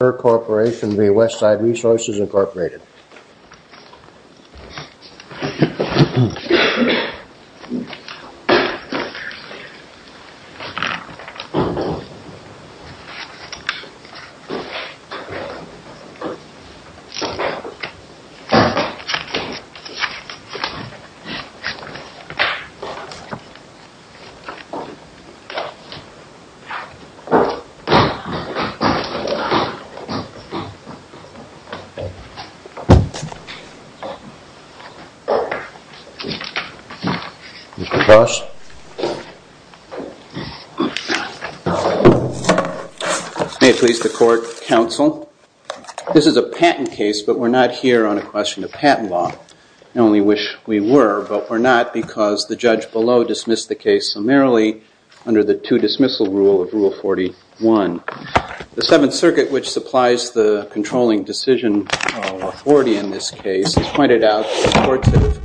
Incorporated. May it please the Court, Counsel, this is a patent case, but we're not here on a question of patent law. I only wish we were, but we're not because the judge below dismissed the case summarily under the two-dismissal rule of Rule 41. The Seventh Circuit, which supplies the controlling decision authority in this case, has pointed out that the courts have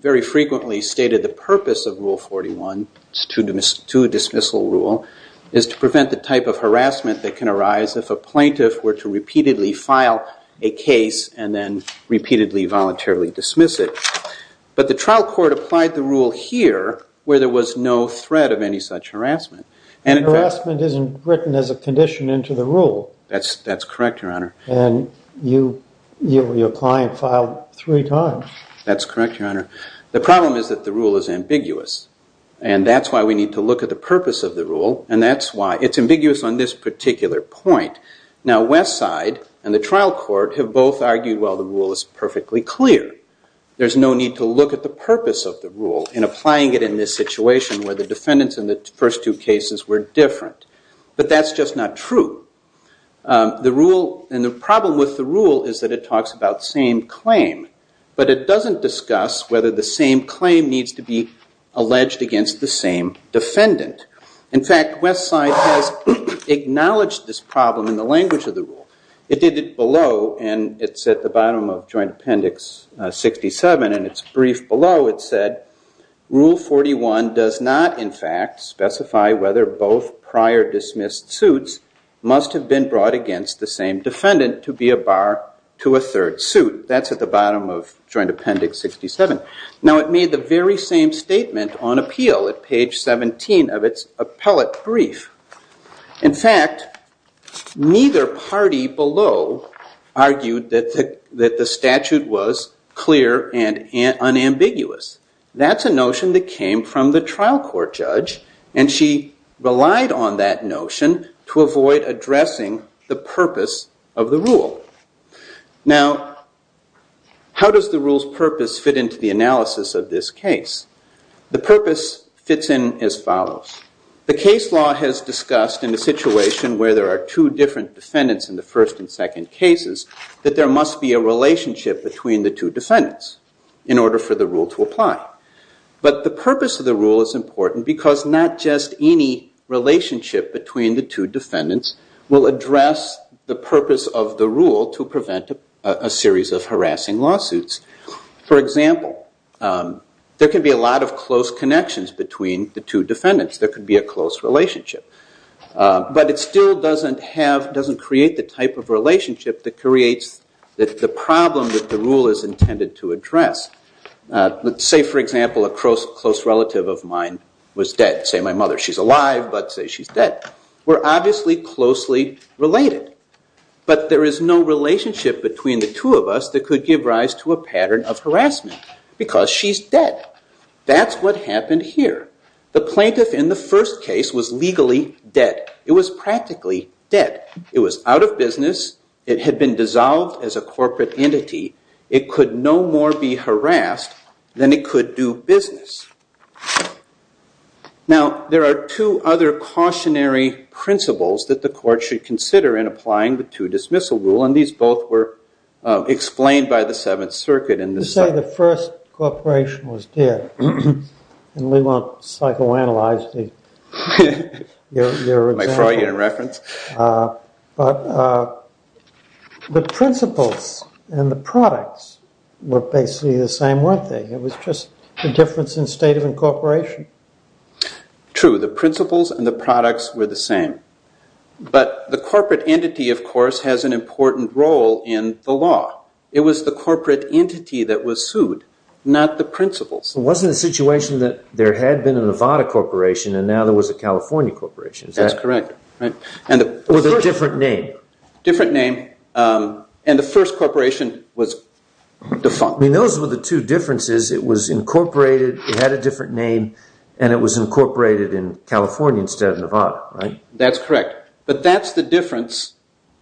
very frequently stated the purpose of Rule 41, it's a two-dismissal rule, is to prevent the type of harassment that can arise if a plaintiff were to repeatedly file a case and then repeatedly voluntarily dismiss it. But the trial court applied the rule here, where there was no threat of any such harassment. Harassment isn't written as a condition into the rule. That's correct, Your Honor. And your client filed three times. That's correct, Your Honor. The problem is that the rule is ambiguous, and that's why we need to look at the purpose of the rule, and that's why it's ambiguous on this particular point. Now Westside and the trial court have both argued, well, the rule is perfectly clear. There's no need to look at the purpose of the rule in applying it in this situation where the defendants in the first two cases were different. But that's just not true. And the problem with the rule is that it talks about same claim, but it doesn't discuss whether the same claim needs to be alleged against the same defendant. In fact, Westside has acknowledged this problem in the language of the rule. It did it below, and it's at the bottom of Joint Appendix 67, and it's briefed below. It said, rule 41 does not, in fact, specify whether both prior dismissed suits must have been brought against the same defendant to be a bar to a third suit. That's at the bottom of Joint Appendix 67. Now it made the very same statement on appeal at page 17 of its appellate brief. In fact, neither party below argued that the statute was clear and unambiguous. That's a notion that came from the trial court judge, and she relied on that notion to avoid addressing the purpose of the rule. Now how does the rule's purpose fit into the analysis of this case? The purpose fits in as follows. The case law has discussed in a situation where there are two different defendants in the first and second cases that there must be a relationship between the two defendants in order for the rule to apply. But the purpose of the rule is important because not just any relationship between the two defendants will address the purpose of the rule to prevent a series of harassing lawsuits. For example, there can be a lot of close connections between the two defendants. There could be a close relationship. But it still doesn't create the type of relationship that creates the problem that the rule is intended to address. Let's say, for example, a close relative of mine was dead. Say my mother, she's alive, but say she's dead. We're obviously closely related. But there is no relationship between the two of us that could give rise to a pattern of harassment because she's dead. That's what happened here. The plaintiff in the first case was legally dead. It was practically dead. It was out of business. It had been dissolved as a corporate entity. It could no more be harassed than it could do business. Now, there are two other cautionary principles that the court should consider in applying the two-dismissal rule. And these both were explained by the Seventh Circuit in this. Let's say the first corporation was dead. And we won't psychoanalyze your example. My Freudian reference. But the principles and the products were basically the same, weren't they? It was just the difference in state of incorporation. True, the principles and the products were the same. But the corporate entity, of course, has an important role in the law. It was the corporate entity that was sued, not the principles. It wasn't a situation that there had been a Nevada corporation, and now there was a California corporation. That's correct. With a different name. Different name. And the first corporation was defunct. Those were the two differences. It was incorporated, it had a different name, and it was incorporated in California instead of Nevada. That's correct. But that's the difference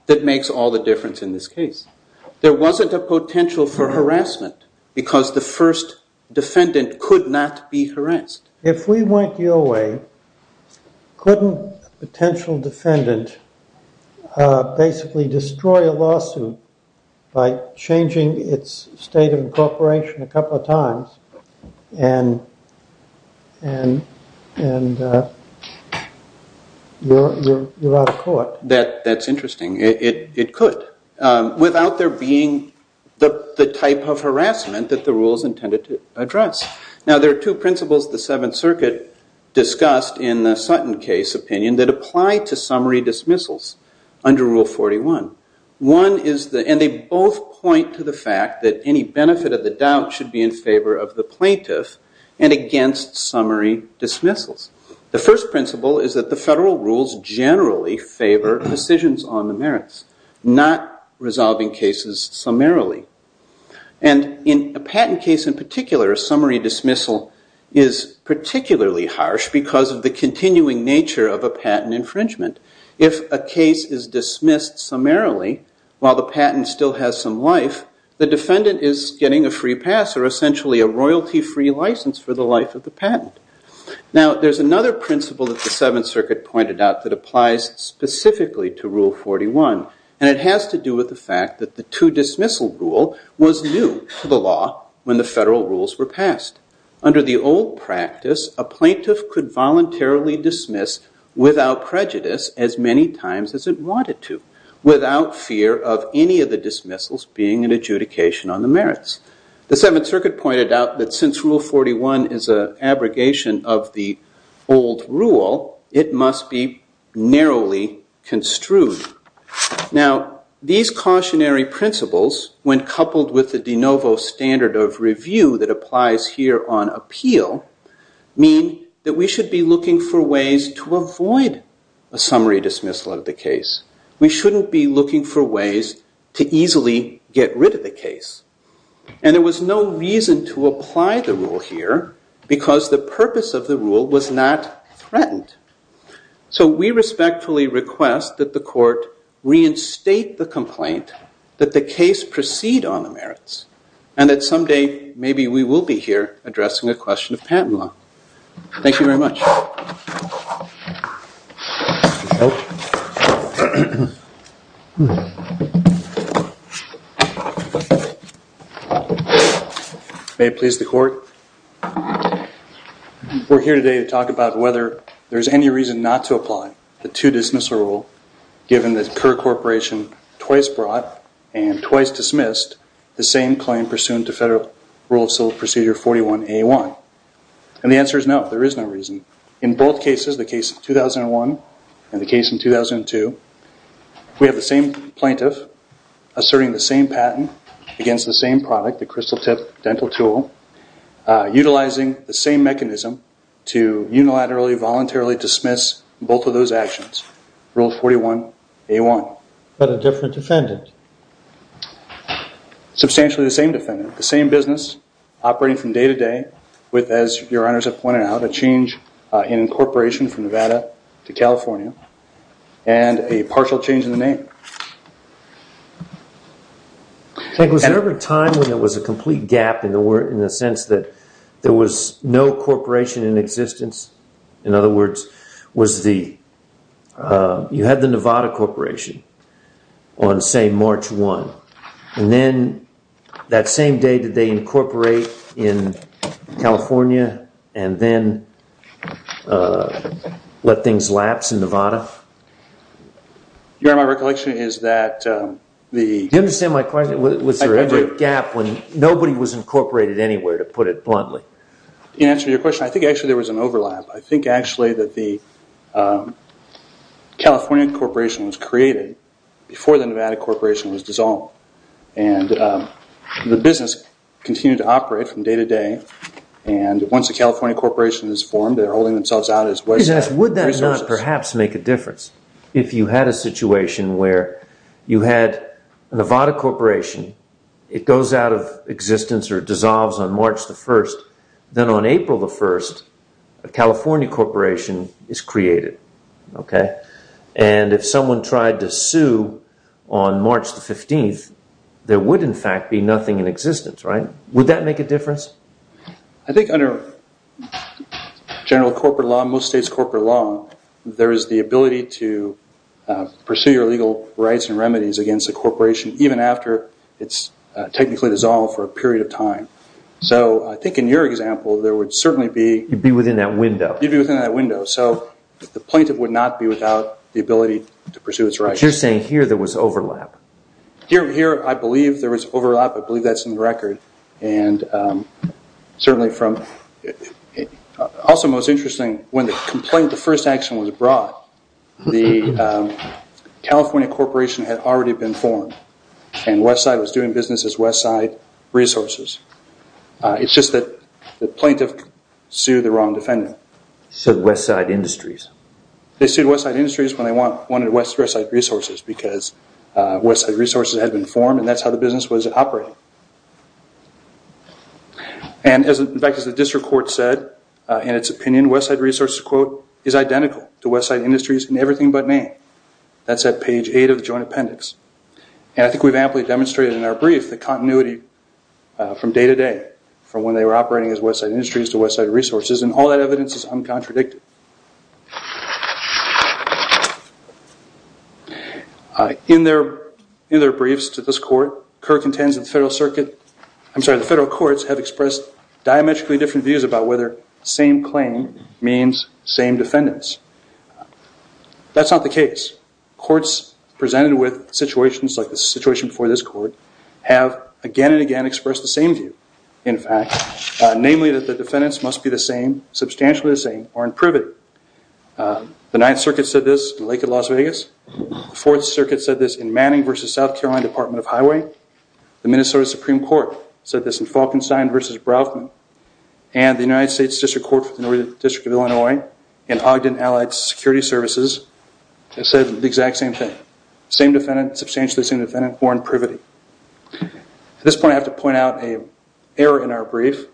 that makes all the difference in this case. There wasn't a potential for harassment, because the first defendant could not be harassed. If we went your way, couldn't a potential defendant basically destroy a lawsuit by changing its state of incorporation a couple of times, and you're out of court? That's interesting. It could. Without there being the type of harassment that the rule is intended to address. Now, there are two principles the Seventh Circuit discussed in the Sutton case opinion that apply to summary dismissals under Rule 41. And they both point to the fact that any benefit of the doubt should be in favor of the plaintiff and against summary dismissals. The first principle is that the federal rules generally favor decisions on the merits, not resolving cases summarily. And in a patent case in particular, a summary dismissal is particularly harsh because of the continuing nature of a patent infringement. If a case is dismissed summarily, while the patent still has some life, the defendant is getting a free pass, or essentially a royalty-free license for the life of the patent. Now, there's another principle that the Seventh Circuit pointed out that applies specifically to Rule 41. And it has to do with the fact that the two-dismissal rule was new to the law when the federal rules were passed. Under the old practice, a plaintiff could voluntarily dismiss without prejudice as many times as it wanted to, without fear of any of the dismissals being an adjudication on the merits. The Seventh Circuit pointed out that since Rule 41 is an abrogation of the old rule, it must be narrowly construed. Now, these cautionary principles, when coupled with the de novo standard of review that applies here on appeal, mean that we should be looking for ways to avoid a summary dismissal of the case. We shouldn't be looking for ways to easily get rid of the case. And there was no reason to apply the rule here, because the purpose of the rule was not threatened. So we respectfully request that the court reinstate the complaint, that the case proceed on the merits, and that someday maybe we will be here addressing a question of patent law. Thank you very much. May it please the court. We're here today to talk about whether there's any reason not to apply the two-dismissal rule, given that Kerr Corporation twice brought, and twice dismissed, the same claim pursuant to Federal Rule of Civil Procedure 41A1. to Federal Rule of Civil Procedure 41A1. In both cases, the case of 2001 and the case in 2002, we have the same plaintiff asserting the same patent against the same product, the crystal tip dental tool, utilizing the same mechanism to unilaterally, voluntarily dismiss both of those actions, Rule 41A1. But a different defendant. Substantially the same defendant, the same business, operating from day to day with, as your honors have pointed out, a change in incorporation from Nevada to California, and a partial change in the name. Was there ever a time when there was a complete gap in the sense that there was no corporation in existence? In other words, you had the Nevada Corporation on, say, March 1. And then that same day did they incorporate in California, and then let things lapse in Nevada? Your Honor, my recollection is that the- Do you understand my question? Was there ever a gap when nobody was incorporated anywhere, to put it bluntly? In answer to your question, I think actually there was an overlap. I think actually that the California Corporation was created before the Nevada Corporation was dissolved. And the business continued to operate from day to day. And once the California Corporation is formed, they're holding themselves out as waste resources. Would that not perhaps make a difference if you had a situation where you had a Nevada Corporation, it goes out of existence or dissolves on March 1, then on April 1, a California Corporation is created. And if someone tried to sue on March 15, there would, in fact, be nothing in existence, right? Would that make a difference? I think under general corporate law, most states' corporate law, there is the ability to pursue your legal rights and remedies against a corporation, even after it's technically dissolved for a period of time. So I think in your example, there would certainly be- You'd be within that window. You'd be within that window. So the plaintiff would not be without the ability to pursue its rights. But you're saying here there was overlap. Here, I believe there was overlap. I believe that's in the record. And certainly from- Also most interesting, when the complaint, the first action was brought, the California Corporation had already been formed. And Westside was doing business as Westside Resources. It's just that the plaintiff sued the wrong defendant. Sued Westside Industries. They sued Westside Industries when they wanted Westside Resources. Because Westside Resources had been formed, and that's how the business was operating. And in fact, as the district court said in its opinion, Westside Resources, quote, is identical to Westside Industries in everything but name. That's at page eight of the joint appendix. And I think we've amply demonstrated in our brief the continuity from day to day, from when they were operating as Westside Industries to Westside Resources. And all that evidence is uncontradicted. In their briefs to this court, the federal courts have expressed diametrically different views about whether same claim means same defendants. That's not the case. Courts presented with situations like the situation before this court have again and again expressed the same view. In fact, namely that the defendants must be the same, substantially the same, or in privity. The Ninth Circuit said this in Lake of Las Vegas. Fourth Circuit said this in Manning versus South Carolina Department of Highway. The Minnesota Supreme Court said this in Falkenstein versus Braufman. And the United States District Court for the Northern District of Illinois and Ogden Allied Security Services said the exact same thing. Same defendant, substantially the same defendant, or in privity. At this point, I have to point out an error in our brief.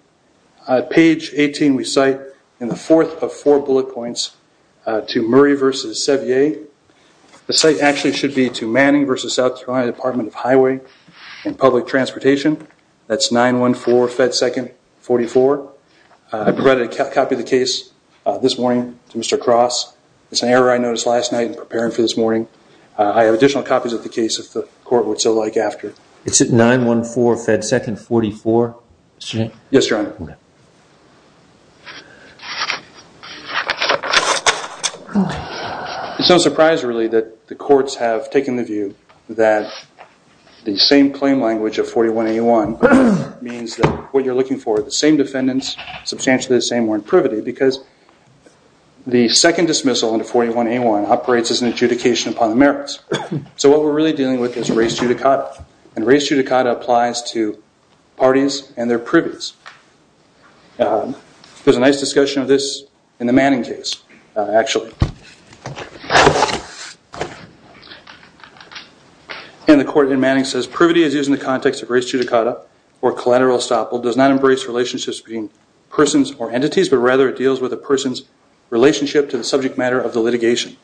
Page 18, we cite in the fourth of four bullet points to Murray versus Sevier. The site actually should be to Manning versus South Carolina Department of Highway and Public Transportation. That's 914 Fed 2nd 44. I provided a copy of the case this morning to Mr. Cross. It's an error I noticed last night in preparing for this morning. I have additional copies of the case, if the court would so like after. It's at 914 Fed 2nd 44? Yes, Your Honor. It's no surprise, really, that the courts have taken the view that the same claim language of 41A1 means that what you're looking for, the same defendants, substantially the same, or in privity, because the second dismissal under 41A1 operates as an adjudication upon the merits. So what we're really dealing with is race judicata. And race judicata applies to parties and their privies. There's a nice discussion of this in the Manning case, actually. And the court in Manning says, privity is used in the context of race judicata, or collateral estoppel, does not embrace relationships between persons or entities, but rather it deals with a person's relationship to the subject matter of the litigation.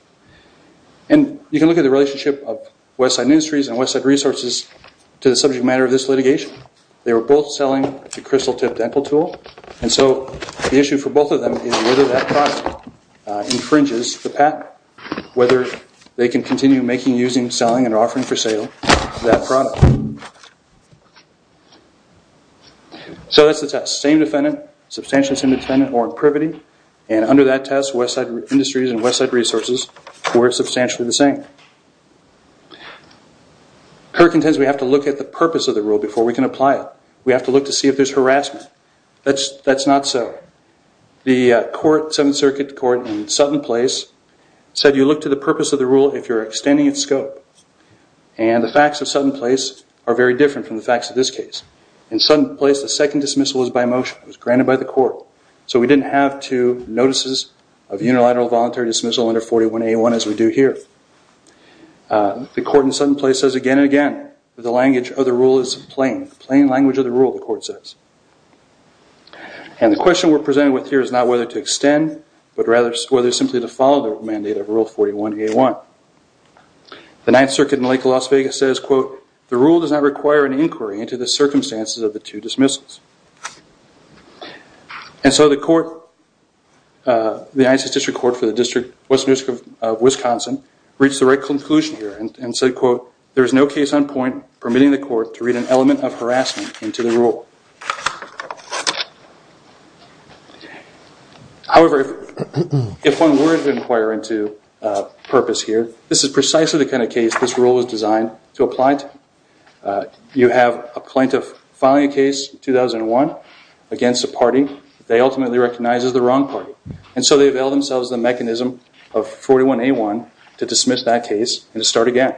And you can look at the relationship of Westside Industries and Westside Resources to the subject matter of this litigation. They were both selling the crystal tip dental tool. And so the issue for both of them is whether that product infringes the patent, whether they can continue making, using, selling, and offering for sale that product. So that's the test, same defendant, substantially the same defendant, or in privity. And under that test, Westside Industries and Westside are the same. Kirk intends we have to look at the purpose of the rule before we can apply it. We have to look to see if there's harassment. That's not so. The court, Seventh Circuit Court, in Sutton Place said you look to the purpose of the rule if you're extending its scope. And the facts of Sutton Place are very different from the facts of this case. In Sutton Place, the second dismissal was by motion. It was granted by the court. So we didn't have two notices of unilateral voluntary dismissal under 41A1 as we do here. The court in Sutton Place says again and again, the language of the rule is plain. Plain language of the rule, the court says. And the question we're presented with here is not whether to extend, but rather whether simply to follow the mandate of Rule 41A1. The Ninth Circuit in Lake Las Vegas says, quote, the rule does not require an inquiry into the circumstances of the two dismissals. And so the court, the Ninth District Court for the District of Wisconsin, reached the right conclusion here and said, quote, there is no case on point permitting the court to read an element of harassment into the rule. However, if one were to inquire into purpose here, this is precisely the kind of case this rule was designed to apply to. You have a plaintiff filing a case in 2001 against a party they ultimately recognize as the wrong party. And so they avail themselves of the mechanism of 41A1 to dismiss that case and to start again.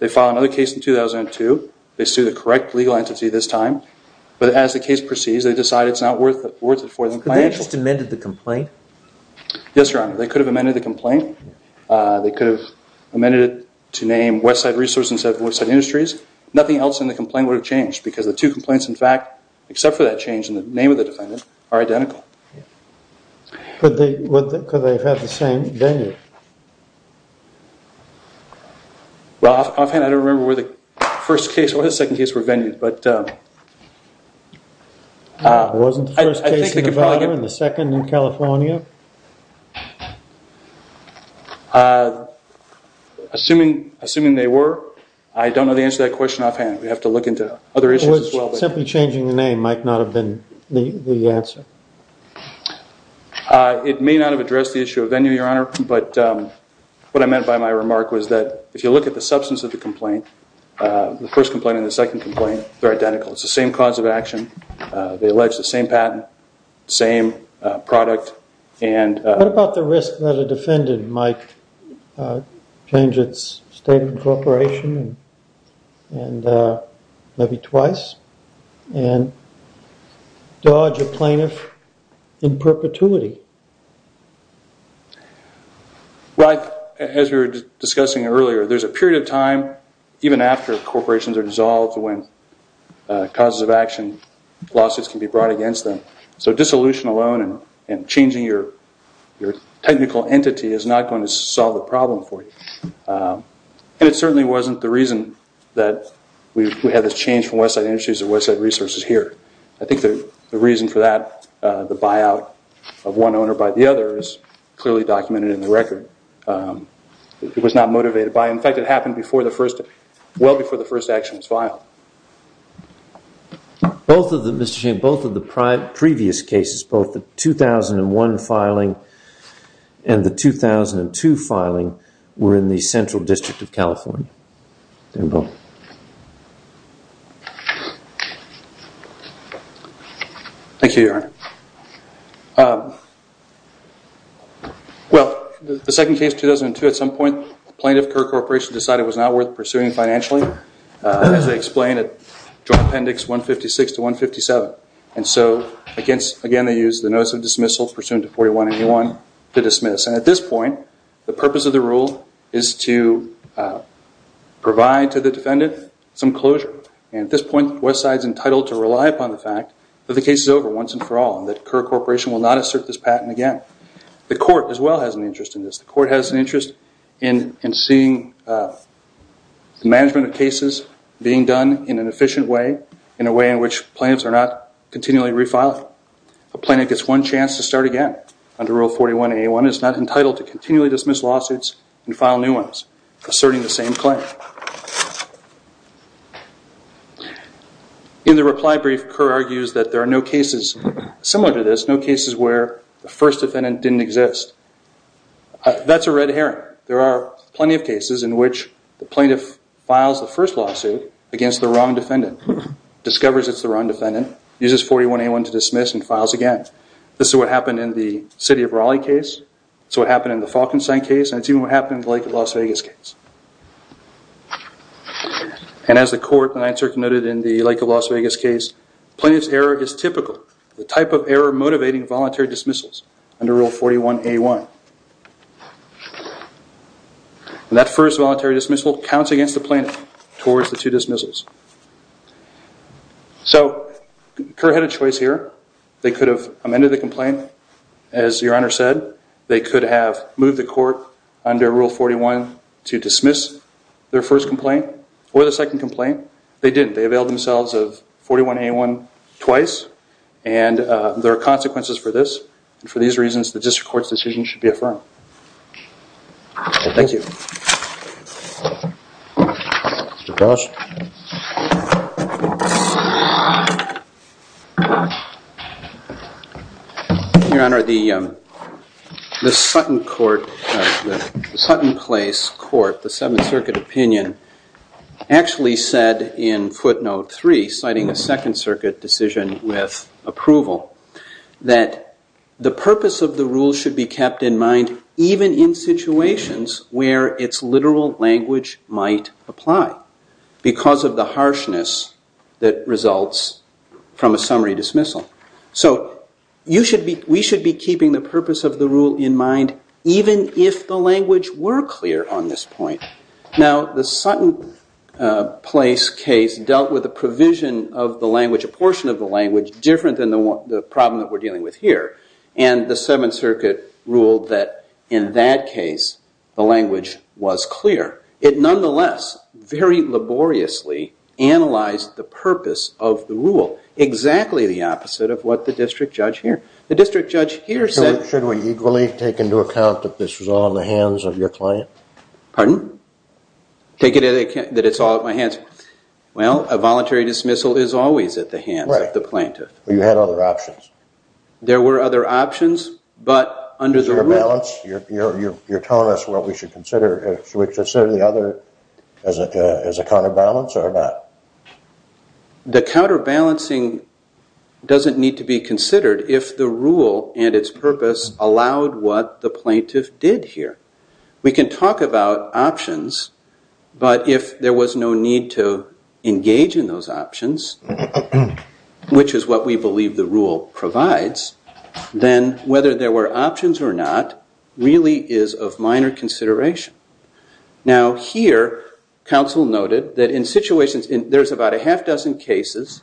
They file another case in 2002. They sue the correct legal entity this time. But as the case proceeds, they decide it's not worth it for them financially. But they just amended the complaint? Yes, Your Honor. They could have amended the complaint. They could have amended it to name Westside Resources instead of Westside Industries. Nothing else in the complaint would have changed because the two complaints, in fact, except for that change in the name of the defendant, are identical. Could they have had the same venue? Well, offhand, I don't remember where the first case or the second case were venued. Wasn't the first case in Nevada and the second in California? Assuming they were, I don't know the answer to that question offhand. We'd have to look into other issues as well. Simply changing the name might not have been the answer. It may not have addressed the issue of venue, Your Honor. But what I meant by my remark was that if you look at the substance of the complaint, the first complaint and the second complaint, they're identical. It's the same cause of action. They allege the same patent, same product. And what about the risk that a defendant might change its statement of cooperation maybe twice? And dodge a plaintiff in perpetuity? Well, as we were discussing earlier, there's a period of time, even after corporations are dissolved, when causes of action, lawsuits can be brought against them. So dissolution alone and changing your technical entity is not going to solve the problem for you. And it certainly wasn't the reason that we had this change from Westside Industries to Westside Resources here. I think the reason for that, the buyout of one owner by the other, is clearly documented in the record. It was not motivated by it. In fact, it happened well before the first action was filed. Both of the previous cases, both the 2001 filing and the 2002 filing, were in the Central District of California. They were both. Thank you, Your Honor. Well, the second case, 2002, at some point, the plaintiff, Kerr Corporation, decided it was not worth pursuing financially, as they explained at Joint Appendix 156 to 157. And so again, they used the notice of dismissal, pursuant to 41-81, to dismiss. And at this point, the purpose of the rule is to provide to the defendant some closure. And at this point, Westside's entitled to rely upon the fact that the case is over once and for all, and that Kerr Corporation will not assert this patent again. The court, as well, has an interest in this. The court has an interest in seeing the management of cases being done in an efficient way, in a way in which plaintiffs are not continually refiling. A plaintiff gets one chance to start again under rule 41-81. It's not entitled to continually dismiss lawsuits and file new ones, asserting the same claim. In the reply brief, Kerr argues that there are no cases similar to this, no cases where the first defendant didn't exist. That's a red herring. There are plenty of cases in which the plaintiff files the first lawsuit against the wrong defendant, discovers it's the wrong defendant, uses 41-81 to dismiss, and files again. This is what happened in the city of Raleigh case. It's what happened in the Falkenstein case. And it's even what happened in the Lake of Las Vegas case. And as the court noted in the Lake of Las Vegas case, plaintiff's error is typical, the type of error motivating voluntary dismissals under rule 41-81. And that first voluntary dismissal counts against the plaintiff towards the two dismissals. So Kerr had a choice here. They could have amended the complaint, as your honor said. They could have moved the court under rule 41 to dismiss their first complaint or the second complaint. They didn't. They availed themselves of 41-81 twice. And there are consequences for this. And for these reasons, the district court's decision should be affirmed. Thank you. Mr. Cross? Thank you, your honor. The Sutton Court, the Sutton Place Court, the Seventh Circuit opinion, actually said in footnote three, citing a Second Circuit decision with approval, that the purpose of the rule should be kept in mind even in situations where its literal language might apply. Because of the harshness that results from a summary dismissal. So we should be keeping the purpose of the rule in mind, even if the language were clear on this point. Now, the Sutton Place case dealt with a provision of the language, a portion of the language, different than the problem that we're dealing with here. And the Seventh Circuit ruled that in that case, the language was clear. It nonetheless, very laboriously, analyzed the purpose of the rule. Exactly the opposite of what the district judge here. The district judge here said. Should we equally take into account that this was all in the hands of your client? Pardon? Take into account that it's all at my hands. Well, a voluntary dismissal is always at the hands of the plaintiff. You had other options. There were other options. But under the rule. You're telling us what we should consider, should we consider the other as a counterbalance or not? The counterbalancing doesn't need to be considered if the rule and its purpose allowed what the plaintiff did here. We can talk about options, but if there was no need to engage in those options, which is what we believe the rule provides, then whether there were options or not, really is of minor consideration. Now here, counsel noted that in situations, there's about a half dozen cases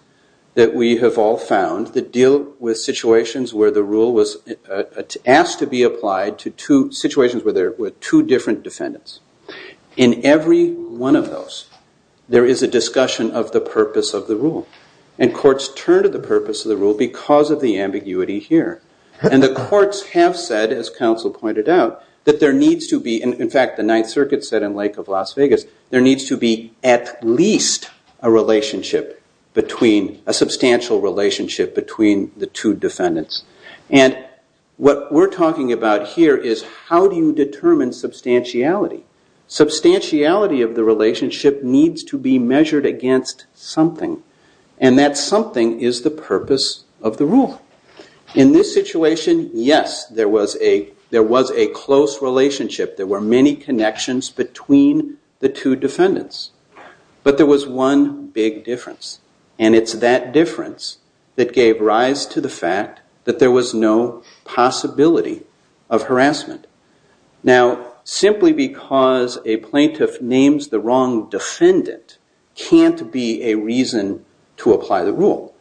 that we have all found that deal with situations where the rule was asked to be applied to situations where there were two different defendants. In every one of those, there is a discussion of the purpose of the rule. And courts turn to the purpose of the rule because of the ambiguity here. And the courts have said, as counsel pointed out, that there needs to be, in fact, the Ninth Circuit said in Lake of Las Vegas, there needs to be at least a relationship between, a substantial relationship between the two defendants. And what we're talking about here is how do you determine substantiality? Substantiality of the relationship needs to be measured against something. And that something is the purpose of the rule. In this situation, yes, there was a close relationship. There were many connections between the two defendants. But there was one big difference. And it's that difference that gave rise to the fact that there was no possibility of harassment. Now, simply because a plaintiff names the wrong defendant can't be a reason to apply the rule.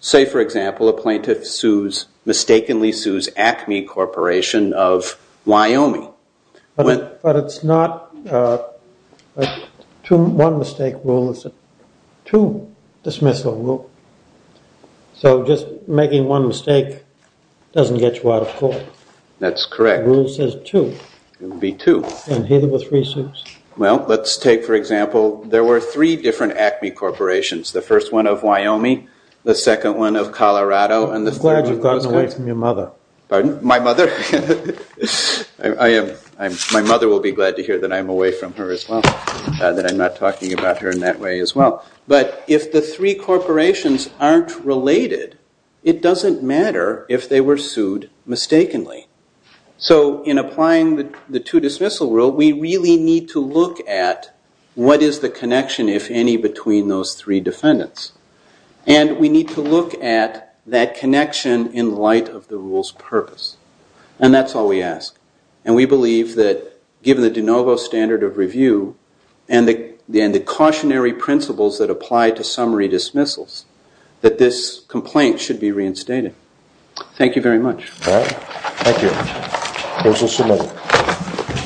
Say, for example, a plaintiff mistakenly sues ACME Corporation of Wyoming. But it's not one mistake rule. It's a two dismissal rule. So just making one mistake doesn't get you out of court. That's correct. The rule says two. It would be two. And here there were three sues. Well, let's take, for example, there were three different ACME corporations. The first one of Wyoming, the second one of Colorado, and the third one of Wisconsin. I'm glad you've gotten away from your mother. Pardon? My mother? My mother will be glad to hear that I'm away from her as well, that I'm not talking about her in that way as well. But if the three corporations aren't related, it doesn't matter if they were sued mistakenly. So in applying the two dismissal rule, we really need to look at what is the connection, if any, between those three defendants. And we need to look at that connection in light of the rule's purpose. And that's all we ask. And we believe that, given the de novo standard of review and the cautionary principles that apply to summary dismissals, that this complaint should be reinstated. Thank you very much. Thank you. Thank you so much.